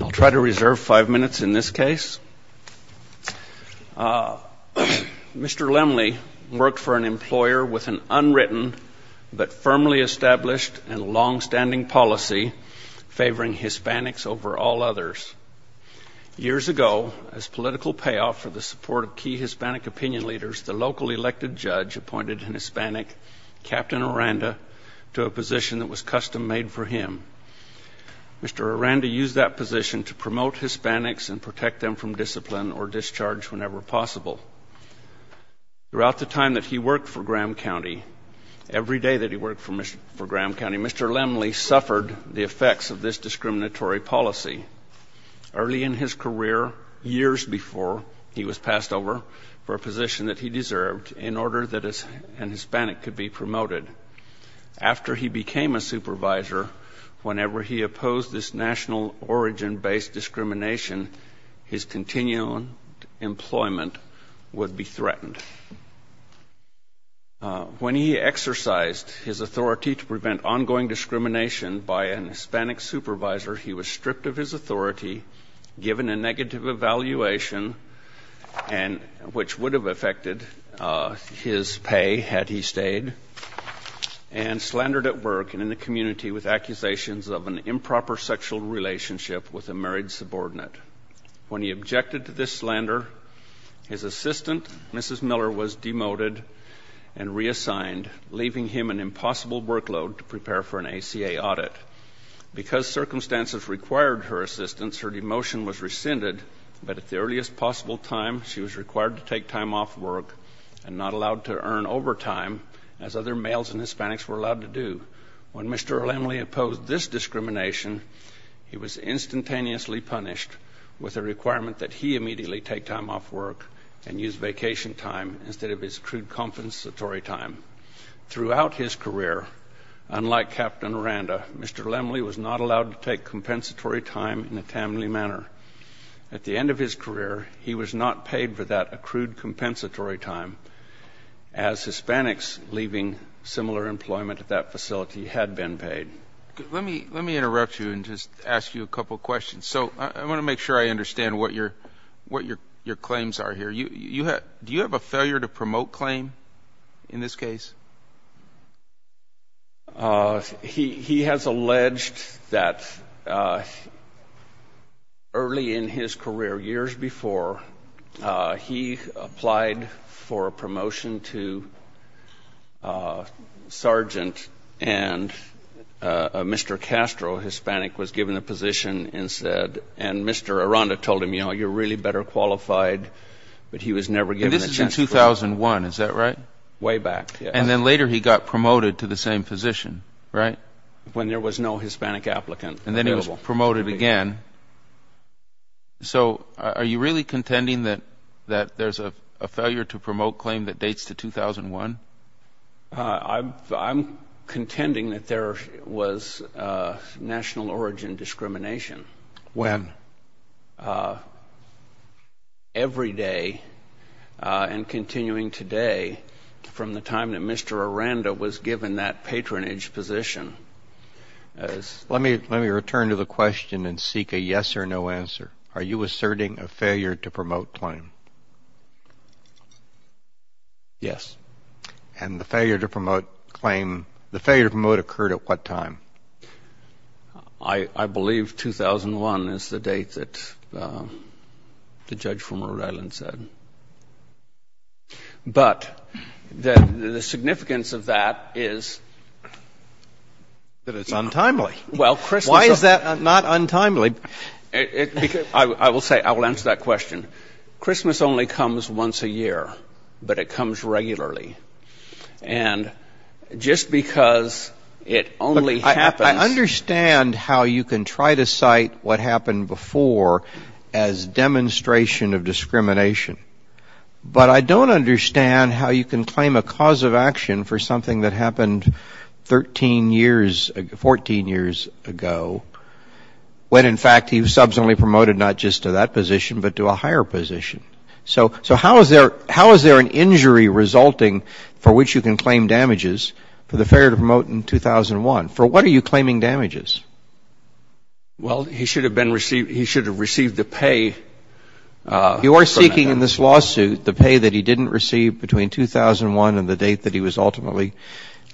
I'll try to reserve five minutes in this case. Mr. Lemley worked for an employer with an unwritten but firmly established and long-standing policy favoring Hispanics over all others. Years ago, as political payoff for the support of key Hispanic opinion leaders, the local elected judge appointed an Hispanic, Captain Aranda, to a position that was custom-made for him. Mr. Aranda used that position to promote Hispanics and protect them from discipline or discharge whenever possible. Throughout the time that he worked for Graham County, every day that he worked for Graham County, Mr. Lemley suffered the effects of this discriminatory policy. Early in his career, years before he was passed over, for a position that he deserved in order that an Hispanic could be promoted. After he became a supervisor, whenever he opposed this national origin-based discrimination, his continued employment would be threatened. When he exercised his authority to prevent ongoing and which would have affected his pay had he stayed, and slandered at work and in the community with accusations of an improper sexual relationship with a married subordinate. When he objected to this slander, his assistant, Mrs. Miller, was demoted and reassigned, leaving him an impossible workload to prepare for an earliest possible time, she was required to take time off work and not allowed to earn overtime as other males and Hispanics were allowed to do. When Mr. Lemley opposed this discrimination, he was instantaneously punished with a requirement that he immediately take time off work and use vacation time instead of his true compensatory time. Throughout his career, unlike Captain Aranda, Mr. Lemley was not allowed to take compensatory time in a timely manner. At the end of his career, he was not paid for that accrued compensatory time, as Hispanics leaving similar employment at that facility had been paid. Let me interrupt you and just ask you a couple of questions. So I want to make sure I understand what your claims are here. Do you have a failure to promote claim in this case? He has alleged that early in his career, years before, he applied for a promotion to sergeant, and Mr. Castro, a Hispanic, was given the position and said, and Mr. Aranda told him, you know, you're really better qualified, but he was never given a chance. And this is in 2001, is that right? Way back, yes. And then later he got promoted to the same position, right? When there was no Hispanic applicant available. And then he was promoted again. So are you really contending that there's a failure to promote claim that dates to 2001? I'm contending that there was national origin discrimination. When? Every day and continuing today from the time that Mr. Aranda was given that patronage position. Let me return to the question and seek a yes or no answer. Are you asserting a failure to promote claim? Yes. And the failure to promote claim, the failure to promote occurred at what time? I believe 2001 is the date that the judge from Rhode Island said. But the significance of that is... That it's untimely. Why is that not untimely? I will answer that question. Christmas only comes once a year, but it comes regularly. And just because it only happens... I understand how you can try to cite what happened before as demonstration of discrimination. But I don't understand how you can claim a cause of action for something that happened 13 years, 14 years ago, when in fact he was subsequently promoted not just to that position, but to a higher position. So how is there an injury resulting for which you can claim damages for the failure to promote in 2001? For what are you claiming damages? Well, he should have received the pay... You are seeking in this lawsuit the pay that he didn't receive between 2001 and the date that he was ultimately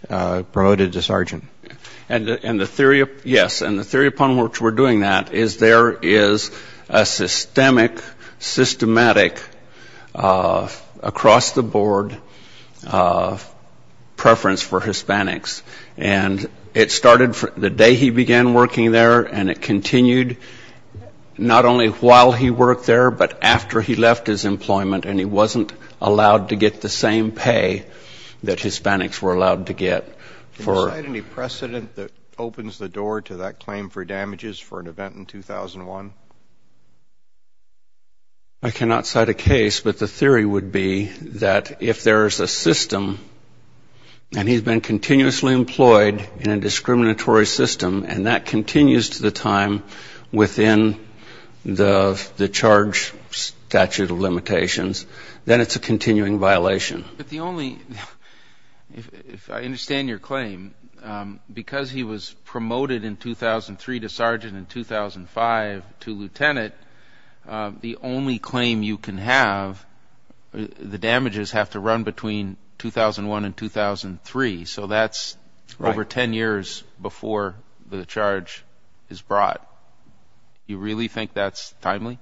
promoted to sergeant. And the theory, yes, and the theory upon which we're doing that is there is a systemic, systematic, across-the-board preference for Hispanics. And it started the day he began working there, and it continued not only while he worked there, but after he left his employment and he wasn't allowed to get the same pay that Hispanics were allowed to get. Can you cite any precedent that opens the door to that claim for damages for an event in 2001? I cannot cite a case, but the theory would be that if there is a system and he's been continuously employed in a discriminatory system and that continues to the time within the charge statute of limitations, then it's a continuing violation. But the only, if I understand your claim, because he was promoted in 2003 to sergeant, in 2005 to lieutenant, the only claim you can have, the damages have to run between 2001 and 2003. So that's over 10 years before the charge is brought. You really think that's timely?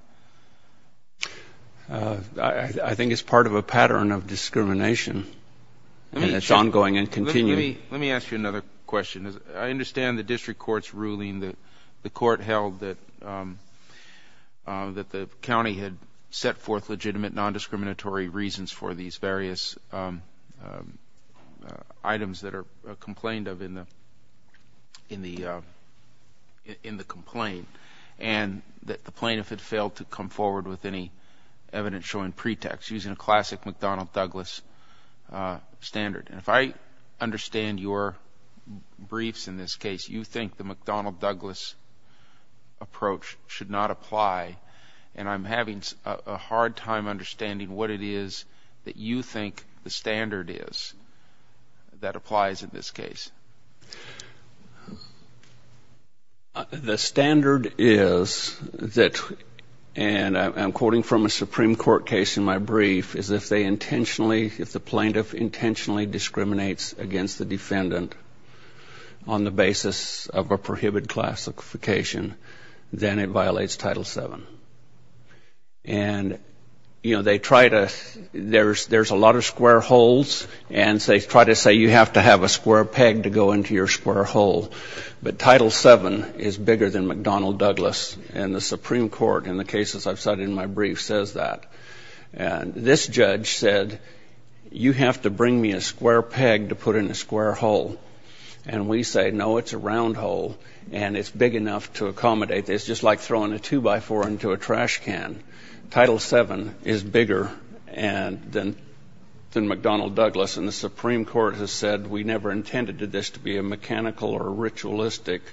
I think it's part of a pattern of discrimination and it's ongoing and continuing. Let me ask you another question. I understand the district court's ruling that the court held that the county had set forth legitimate nondiscriminatory reasons for these various items that are complained of in the complaint and that the plaintiff had failed to come forward with any evidence showing pretext, using a classic McDonnell Douglas standard. And if I understand your briefs in this case, you think the McDonnell Douglas approach should not apply. And I'm having a hard time understanding what it is that you think the standard is that applies in this case. The standard is that, and I'm quoting from a Supreme Court case in my brief, is if they intentionally, if the plaintiff intentionally discriminates against the defendant on the basis of a prohibited classification, then it violates Title VII. There's a lot of square holes and they try to say you have to have a square peg to go into your square hole. But Title VII is bigger than McDonnell Douglas and the Supreme Court in the cases I've cited in my brief says that. And this judge said you have to bring me a square peg to put in a square hole. And we say, no, it's a round hole and it's big enough to accommodate. It's just like throwing a two-by-four into a trash can. Title VII is bigger than McDonnell Douglas. And the Supreme Court has said we never intended this to be a mechanical or ritualistic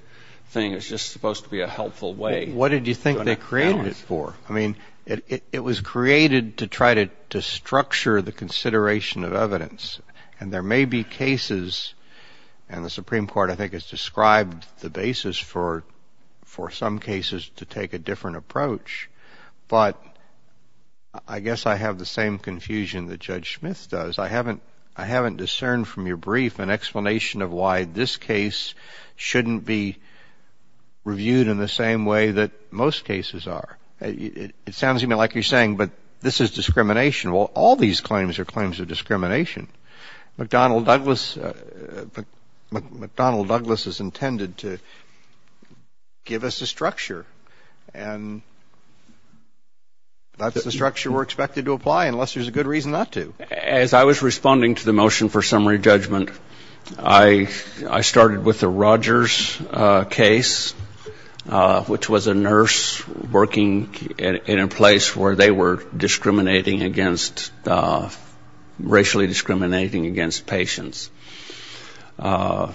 thing. It's just supposed to be a helpful way. What did you think they created it for? I mean, it was created to try to structure the consideration of evidence. And there may be cases, and the Supreme Court I think has described the basis for some cases to take a different approach. But I guess I have the same confusion that Judge Smith does. I haven't discerned from your brief an explanation of why this case shouldn't be reviewed in the same way that most cases are. It sounds to me like you're saying, but this is discrimination. Well, all these claims are claims of discrimination. McDonnell Douglas is intended to give us a structure. And that's the structure we're expected to apply, unless there's a good reason not to. As I was responding to the motion for summary judgment, I started with the Rogers case, which was a nurse working in a place where they were discriminating against, racially discriminating against patients. And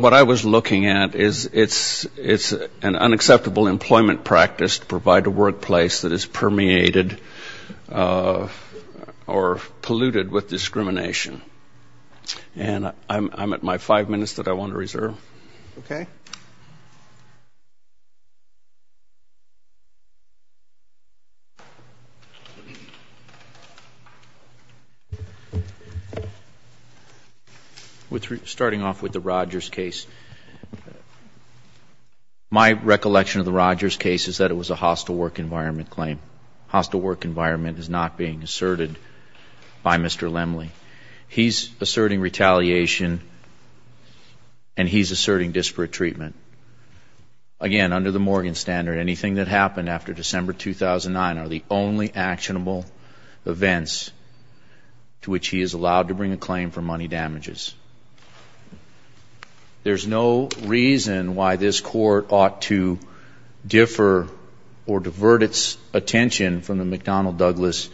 what I was looking at is it's an unacceptable employment practice to provide a workplace that is permeated or polluted with discrimination. And I'm at my five minutes that I want to reserve. Thank you. Starting off with the Rogers case, my recollection of the Rogers case is that it was a hostile work environment claim. Hostile work environment is not being asserted by Mr. Lemley. He's asserting retaliation, and he's asserting disparate treatment. Again, under the Morgan standard, anything that happened after December 2009 are the only actionable events to which he is allowed to bring a claim for money damages. There's no reason why this Court ought to differ or divert its attention from the McDonnell Douglas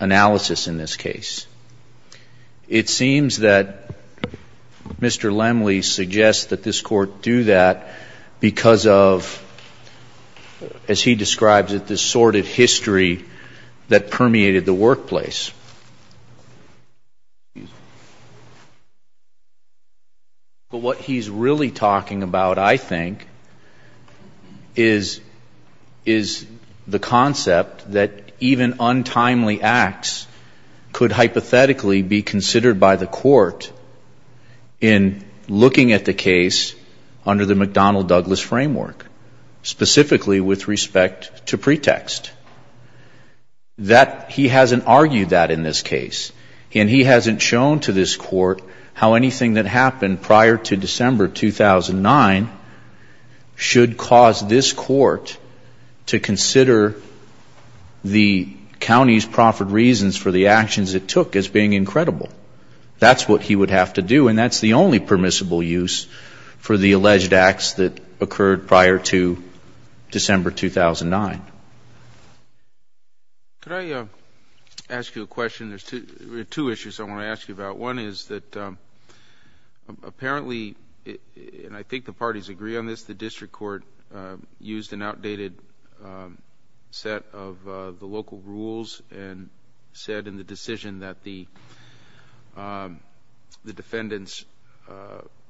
analysis in this case. It seems that Mr. Lemley suggests that this Court do that because of, as he describes it, this sordid history that permeated the workplace. But what he's really talking about, I think, is the concept that even untimely acts could hypothesize that there was a case under the McDonnell Douglas framework, specifically with respect to pretext. That he hasn't argued that in this case, and he hasn't shown to this Court how anything that happened prior to December 2009 should cause this Court to consider the county's profit reasons for the actions it took in this case. That's what he would have to do, and that's the only permissible use for the alleged acts that occurred prior to December 2009. Could I ask you a question? There's two issues I want to ask you about. One is that apparently, and I think the parties agree on this, the district court used an outdated set of the local rules to make the defendant's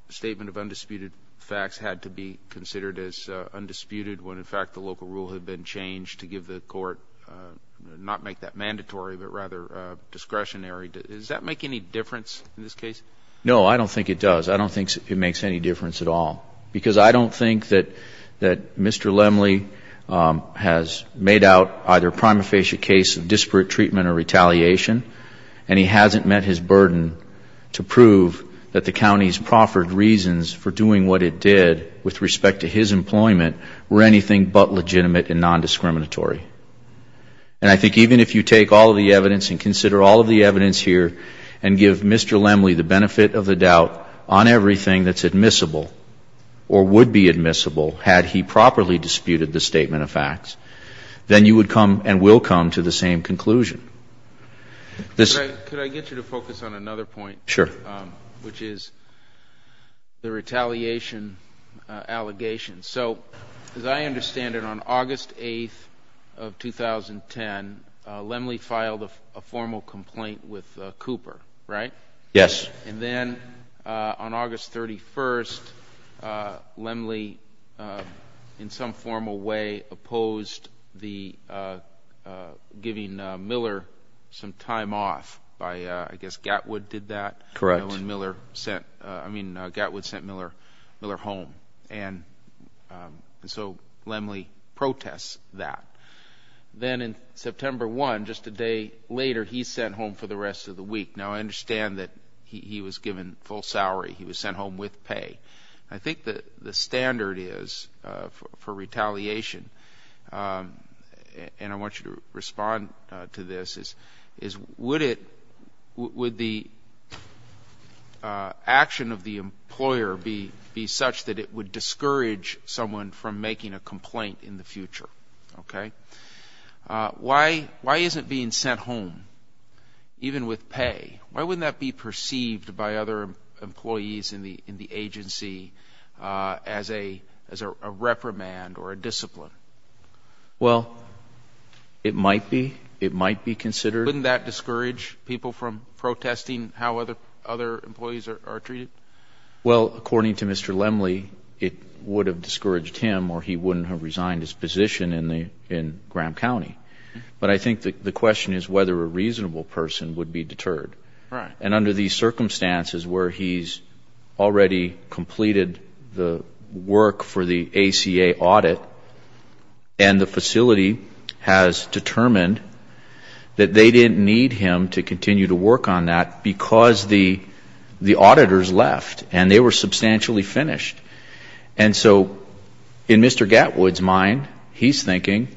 statement of undisputed facts had to be considered as undisputed when, in fact, the local rule had been changed to give the Court, not make that mandatory, but rather discretionary. Does that make any difference in this case? No, I don't think it does. I don't think it makes any difference at all. Because I don't think that Mr. Lemley has made out either a prima facie case of disparate treatment or retaliation, and he hasn't met his burden to prove that the county's proffered reasons for doing what it did with respect to his employment were anything but legitimate and nondiscriminatory. And I think even if you take all of the evidence and consider all of the evidence here and give Mr. Lemley the benefit of the doubt on everything that's admissible or would be admissible had he properly disputed the statement of facts, then you would come and will come to the same conclusion. Could I get you to focus on another point? Sure. Which is the retaliation allegations. So as I understand it, on August 8th of 2010, Lemley filed a formal complaint with Cooper, right? Yes. And then on August 31st, Lemley in some formal way opposed the giving Miller some time off by I guess Gatwood did that? Correct. Gatwood sent Miller home. And so Lemley protests that. Then in September 1, just a day later, he's sent home for the rest of the week. Now I understand that he was given full salary. He was sent home with pay. I think the standard is for retaliation, and I want you to respond to this, is would the action of the employer be such that it would discourage someone from making a complaint in the future? Why isn't being sent home even with pay? Why wouldn't that be perceived by other employees in the agency as a reprimand or a discipline? Well, it might be. Wouldn't that discourage people from protesting how other employees are treated? Well, according to Mr. Lemley, it would have discouraged him or he wouldn't have resigned his position in Graham County. But I think the question is whether a reasonable person would be deterred. And under these circumstances where he's already completed the work for the ACA audit and the facility has determined that they didn't need him to continue to work on that because the auditors left and they were substantially finished. And so in Mr. Gatwood's mind, he's thinking,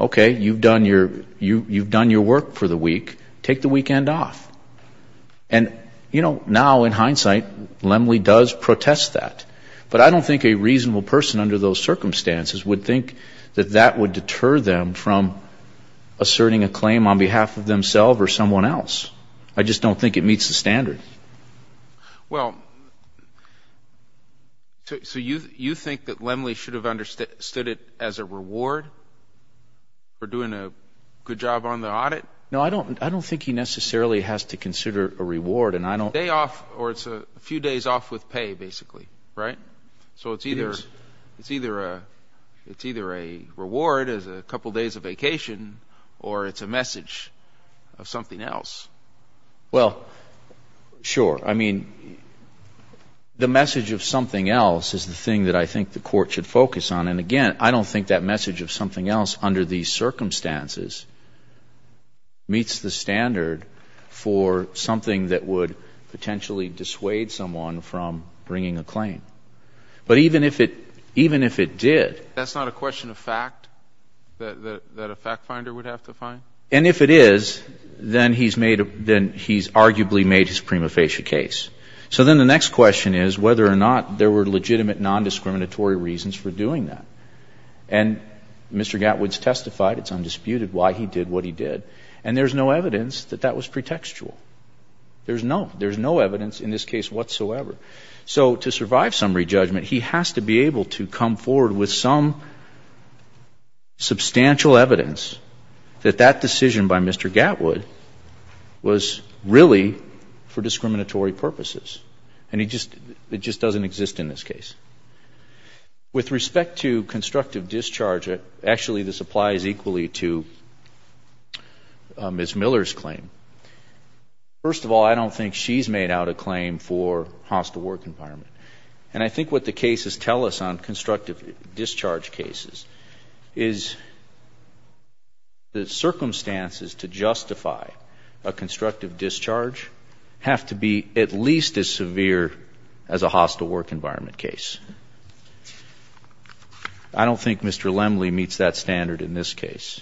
okay, you've done your work for the week, take the weekend off. And, you know, now in hindsight, Lemley does protest that. But I don't think a reasonable person under those circumstances would think that that would deter them from asserting a claim on behalf of themselves or someone else. I just don't think it meets the standard. Well, so you think that Lemley should have understood it as a reward for doing a good job on the audit? No, I don't. I don't think he necessarily has to consider a reward. And I don't. But it's a day off or it's a few days off with pay, basically, right? So it's either a reward as a couple days of vacation or it's a message of something else. Well, sure. I mean, the message of something else is the thing that I think the Court should focus on. And again, I don't think that message of something else under these circumstances meets the standard for something that would potentially dissuade someone from bringing a claim. But even if it did. That's not a question of fact that a fact finder would have to find? And if it is, then he's made a — then he's arguably made his prima facie case. So then the next question is whether or not there were legitimate nondiscriminatory reasons for doing that. And Mr. Gatwood's testified, it's undisputed, why he did what he did. And there's no evidence that that was pretextual. There's no evidence in this case whatsoever. So to survive summary judgment, he has to be able to come forward with some substantial evidence that that decision by Mr. Gatwood was really for discriminatory purposes. And it just doesn't exist in this case. With respect to constructive discharge, actually this applies equally to Ms. Miller's claim. First of all, I don't think she's made out a claim for hostile work environment. And I think what the cases tell us on constructive discharge cases is the circumstances to justify a constructive discharge have to be at least as severe as a hostile work environment case. I don't think Mr. Lemley meets that standard in this case.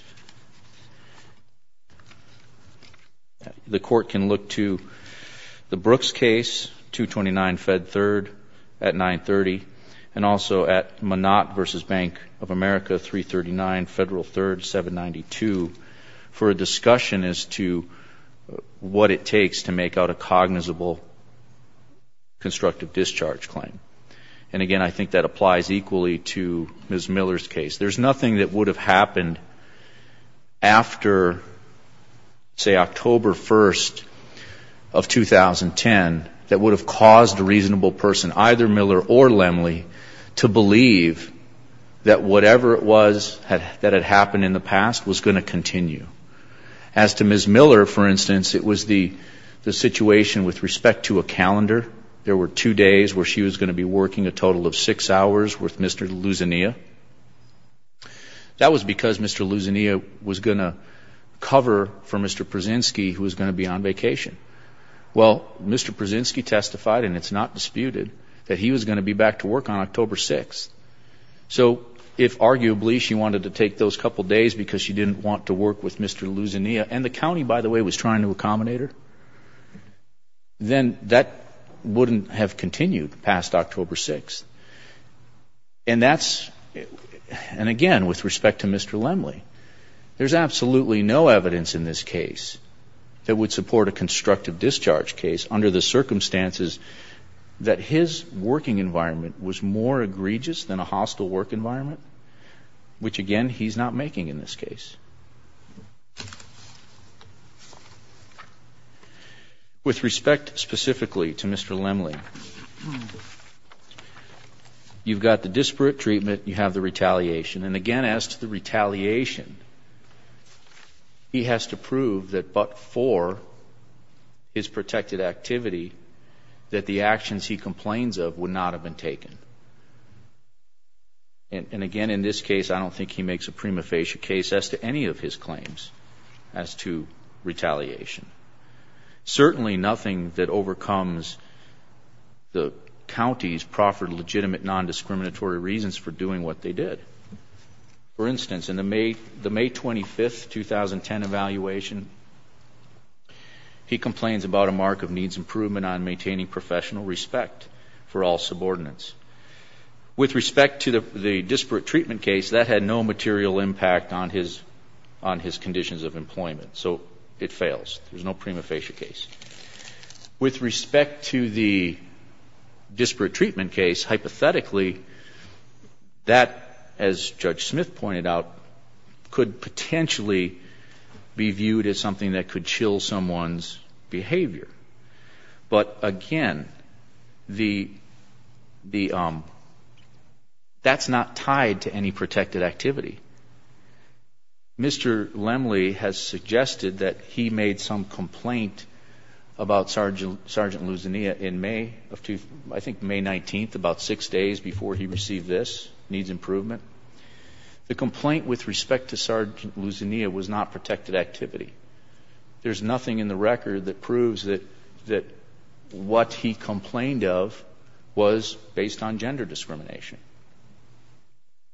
The Court can look to the Brooks case, 229 Fed 3rd at 930, and also at Monat v. Bank of America, 339 Federal 3rd, 792, for a discussion as to what it takes to make out a cognizant plausible constructive discharge claim. And, again, I think that applies equally to Ms. Miller's case. There's nothing that would have happened after, say, October 1st of 2010 that would have caused a reasonable person, either Miller or Lemley, to believe that whatever it was that had happened in the past was going to continue. As to Ms. Miller, for instance, it was the situation with respect to a calendar. There were two days where she was going to be working a total of six hours with Mr. Luzinia. That was because Mr. Luzinia was going to cover for Mr. Pruszynski, who was going to be on vacation. Well, Mr. Pruszynski testified, and it's not disputed, that he was going to be back to work on October 6th. So if, arguably, she wanted to take those couple days because she didn't want to work with Mr. Luzinia, and the county, by the way, was trying to accommodate her, then that wouldn't have continued past October 6th. And, again, with respect to Mr. Lemley, there's absolutely no evidence in this case that would support a constructive discharge case under the circumstances that his working environment was more egregious than a hostile working environment. Which, again, he's not making in this case. With respect specifically to Mr. Lemley, you've got the disparate treatment, you have the retaliation. And, again, as to the retaliation, he has to prove that but for his protected activity, that the actions he complains of would not have been taken. And, again, in this case, I don't think he makes a prima facie case as to any of his claims as to retaliation. Certainly nothing that overcomes the county's proffered legitimate nondiscriminatory reasons for doing what they did. For instance, in the May 25th, 2010 evaluation, he complains about a mark of needs improvement on maintaining professional respect for all subordinates. With respect to the disparate treatment case, that had no material impact on his conditions of employment. So it fails. There's no prima facie case. With respect to the disparate treatment case, hypothetically, that, as Judge Smith pointed out, could potentially be viewed as something that could chill someone's behavior. But, again, that's not tied to any protected activity. Mr. Lemley has suggested that he made some complaint about Sergeant Luzania in May, I think May 19th, about six days before he received this, needs improvement. The complaint with respect to Sergeant Luzania was not protected activity. There's nothing in the record that proves that what he complained of was based on gender discrimination.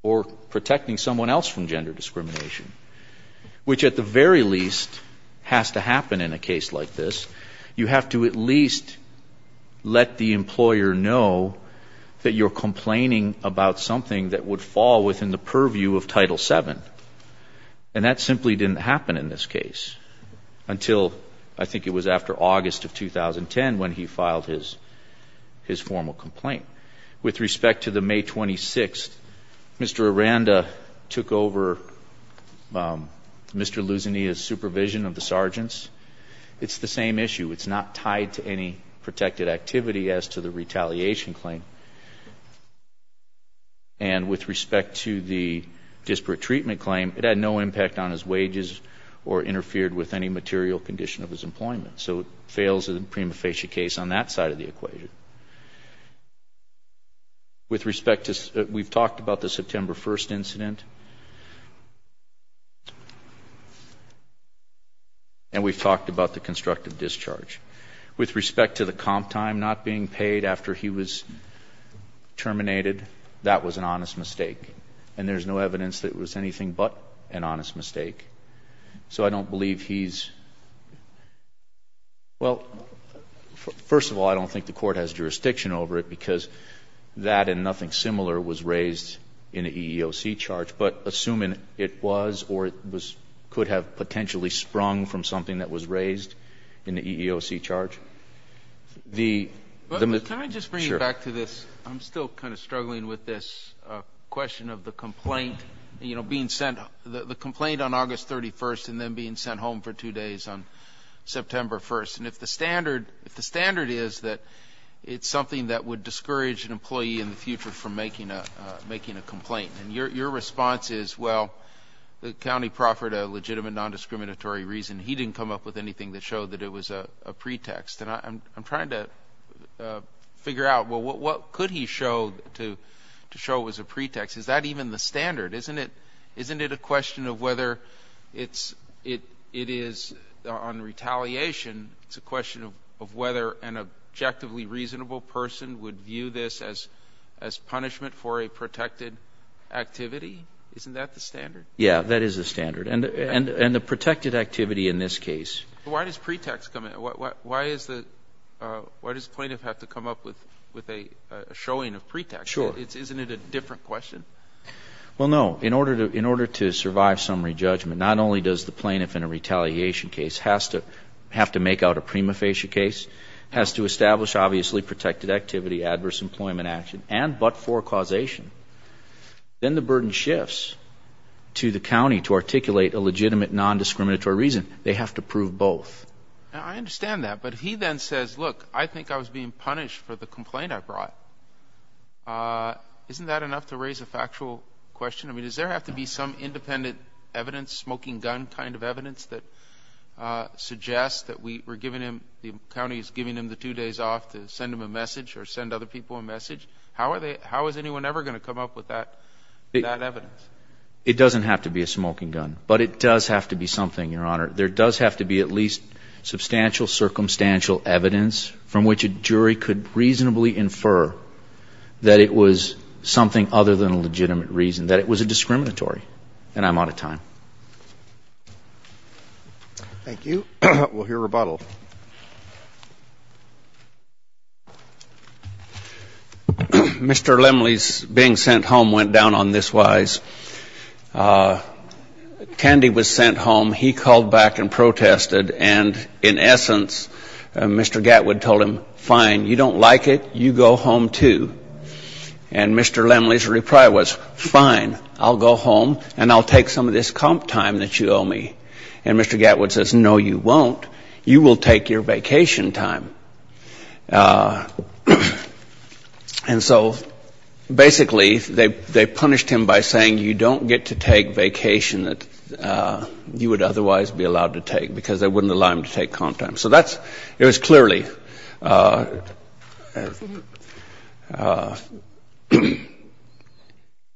Or protecting someone else from gender discrimination. Which, at the very least, has to happen in a case like this. You have to at least let the employer know that you're complaining about something that would fall within the purview of Title VII. And that simply didn't happen in this case until, I think it was after August of 2010 when he filed his formal complaint. With respect to the May 26th, Mr. Aranda took over Mr. Luzania's supervision of the sergeants. It's the same issue. It's not tied to any protected activity as to the retaliation claim. And with respect to the disparate treatment claim, it had no impact on his wages or interfered with any material condition of his employment. So it fails in the prima facie case on that side of the equation. With respect to, we've talked about the September 1st incident. And we've talked about the constructive discharge. With respect to the comp time not being paid after he was terminated, that was an honest mistake. And there's no evidence that it was anything but an honest mistake. So I don't believe he's, well, first of all, I don't think the court has jurisdiction over it. Because that and nothing similar was raised in the EEOC charge. But assuming it was or could have potentially sprung from something that was raised in the EEOC charge, the Can I just bring you back to this? I'm still kind of struggling with this question of the complaint being sent, the complaint on August 31st and then being sent home for two days on September 1st. And if the standard is that it's something that would discourage an employee in the future from making a complaint, and your response is, well, the county proffered a legitimate nondiscriminatory reason. He didn't come up with anything that showed that it was a pretext. And I'm trying to figure out, well, what could he show to show it was a pretext? Is that even the standard? Isn't it a question of whether it is on retaliation, it's a question of whether an objectively reasonable person would view this as punishment for a protected activity? Isn't that the standard? Yeah, that is the standard. And the protected activity in this case. But why does pretext come in? Why does the plaintiff have to come up with a showing of pretext? Sure. Isn't it a different question? Well, no. In order to survive summary judgment, not only does the plaintiff in a retaliation case have to make out a pretext, but he has to make out a pretext that shows that he is being punished for the complaint he brought. Isn't that enough to raise a factual question? I mean, does there have to be some independent evidence, smoking gun kind of evidence that suggests that we're giving him, the county is giving him the two days off to send him a message or send other people a message? How is anyone ever going to come up with that evidence? It doesn't have to be a smoking gun, but it does have to be something, Your Honor. There does have to be at least substantial circumstantial evidence from which a jury could reasonably infer that it was something other than a legitimate reason, that it was a discriminatory. And I'm out of time. Thank you. We'll hear rebuttal. Mr. Lemley's being sent home went down on this wise. Candy was sent home. He called back and protested. And in essence, Mr. Gatwood told him, fine, you don't like it. You go home, too. And Mr. Lemley's reply was, fine, I'll go home and I'll take some of this comp time that you owe me. And Mr. Gatwood says, no, you won't. You will take your vacation time. And so basically they punished him by saying, you don't get to take vacation that you would otherwise be allowed to take, because they wouldn't allow him to take comp time. So that's, it was clearly,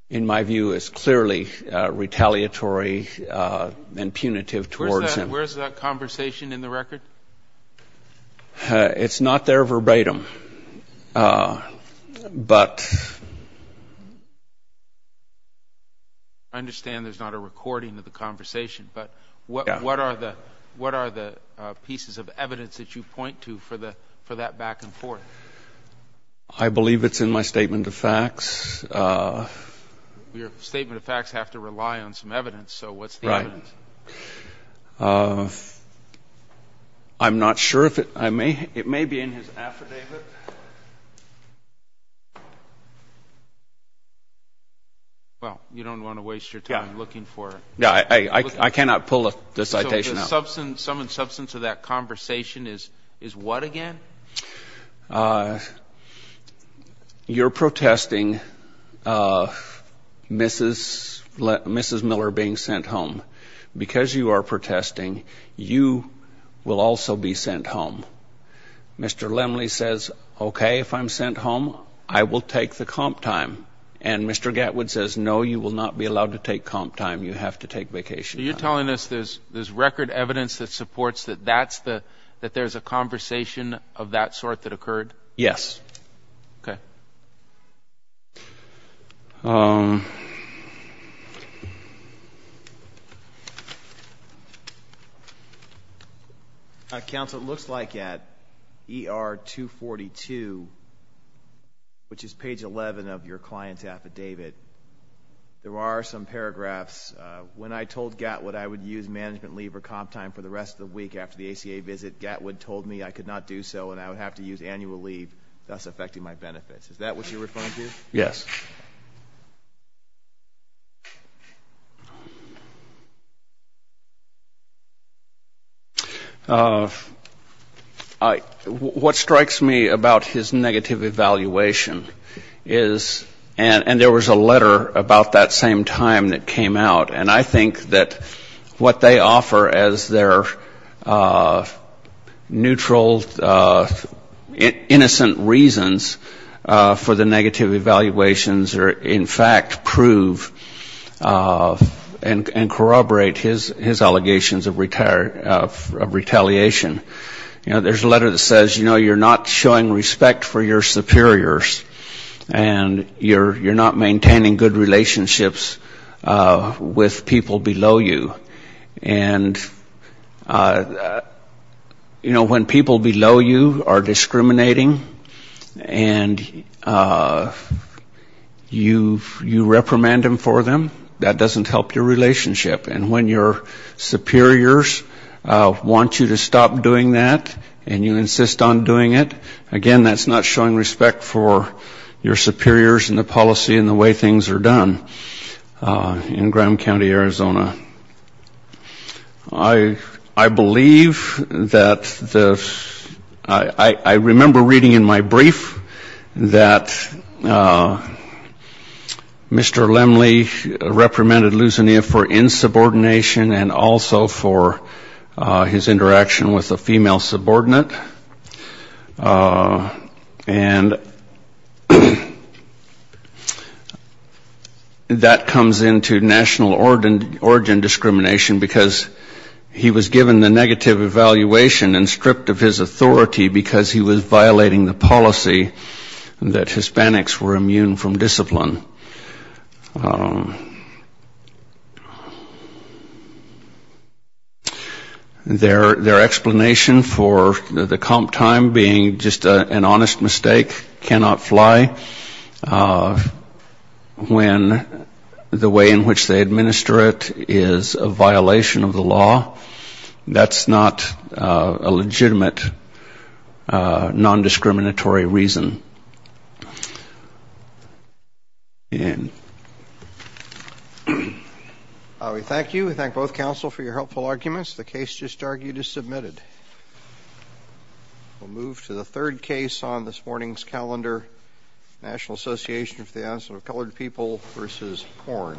in my view, it was clearly retaliatory and punitive towards him. Where's that conversation in the record? It's not there verbatim, but... I understand there's not a recording of the conversation, but what are the pieces of evidence that you point to for that back and forth? I believe it's in my statement of facts. Your statement of facts have to rely on some evidence. So what's the evidence? I'm not sure. It may be in his affidavit. Well, you don't want to waste your time looking for it. I cannot pull the citation out. So the sum and substance of that conversation is what again? You're protesting Mrs. Miller being sent home. Because you are protesting, you will also be sent home. Mr. Lemley says, okay, if I'm sent home, I will take the comp time. And Mr. Gatwood says, no, you will not be allowed to take comp time. You have to take vacation time. So you're telling us there's record evidence that supports that there's a conversation of that sort that occurred? Yes. Counsel, it looks like at ER 242, which is page 11 of your comp statement, the client's affidavit, there are some paragraphs. When I told Gatwood I would use management leave or comp time for the rest of the week after the ACA visit, Gatwood told me I could not do so and I would have to use annual leave, thus affecting my benefits. Is that what you're referring to? Yes. Thank you. What strikes me about his negative evaluation is, and there was a letter about that same time that came out, and I think that what they offer as their neutral, innocent reasons for the negative evaluations are, in fact, prove and corroborate his allegations of retaliation. There's a letter that says, you know, you're not showing respect for your superiors, and you're not maintaining good relationships with people below you. And, you know, when people below you are discriminating and you reprimand them for them, that doesn't help your relationship. And when your superiors want you to stop doing that and you insist on doing it, again, that's not showing respect for your superiors and the policy and the way things are done in Graham County, Arizona. I believe that the ‑‑ I remember reading in my brief that Mr. Lemley reprimanded Lusania for insubordination and also for his interaction with a female subordinate. And that comes into national origin discrimination, because he was given the negative evaluation and stripped of his authority because he was violating the policy that Hispanics were immune from discipline. Their explanation for the comp time being just an honest mistake cannot fly when the way in which they administer it is a violation of the law. That's not a legitimate nondiscriminatory reason. We thank you. We thank both counsel for your helpful arguments. The case just argued is submitted. We'll move to the third case on this morning's calendar, National Association for the Advancement of Colored People v. Horn.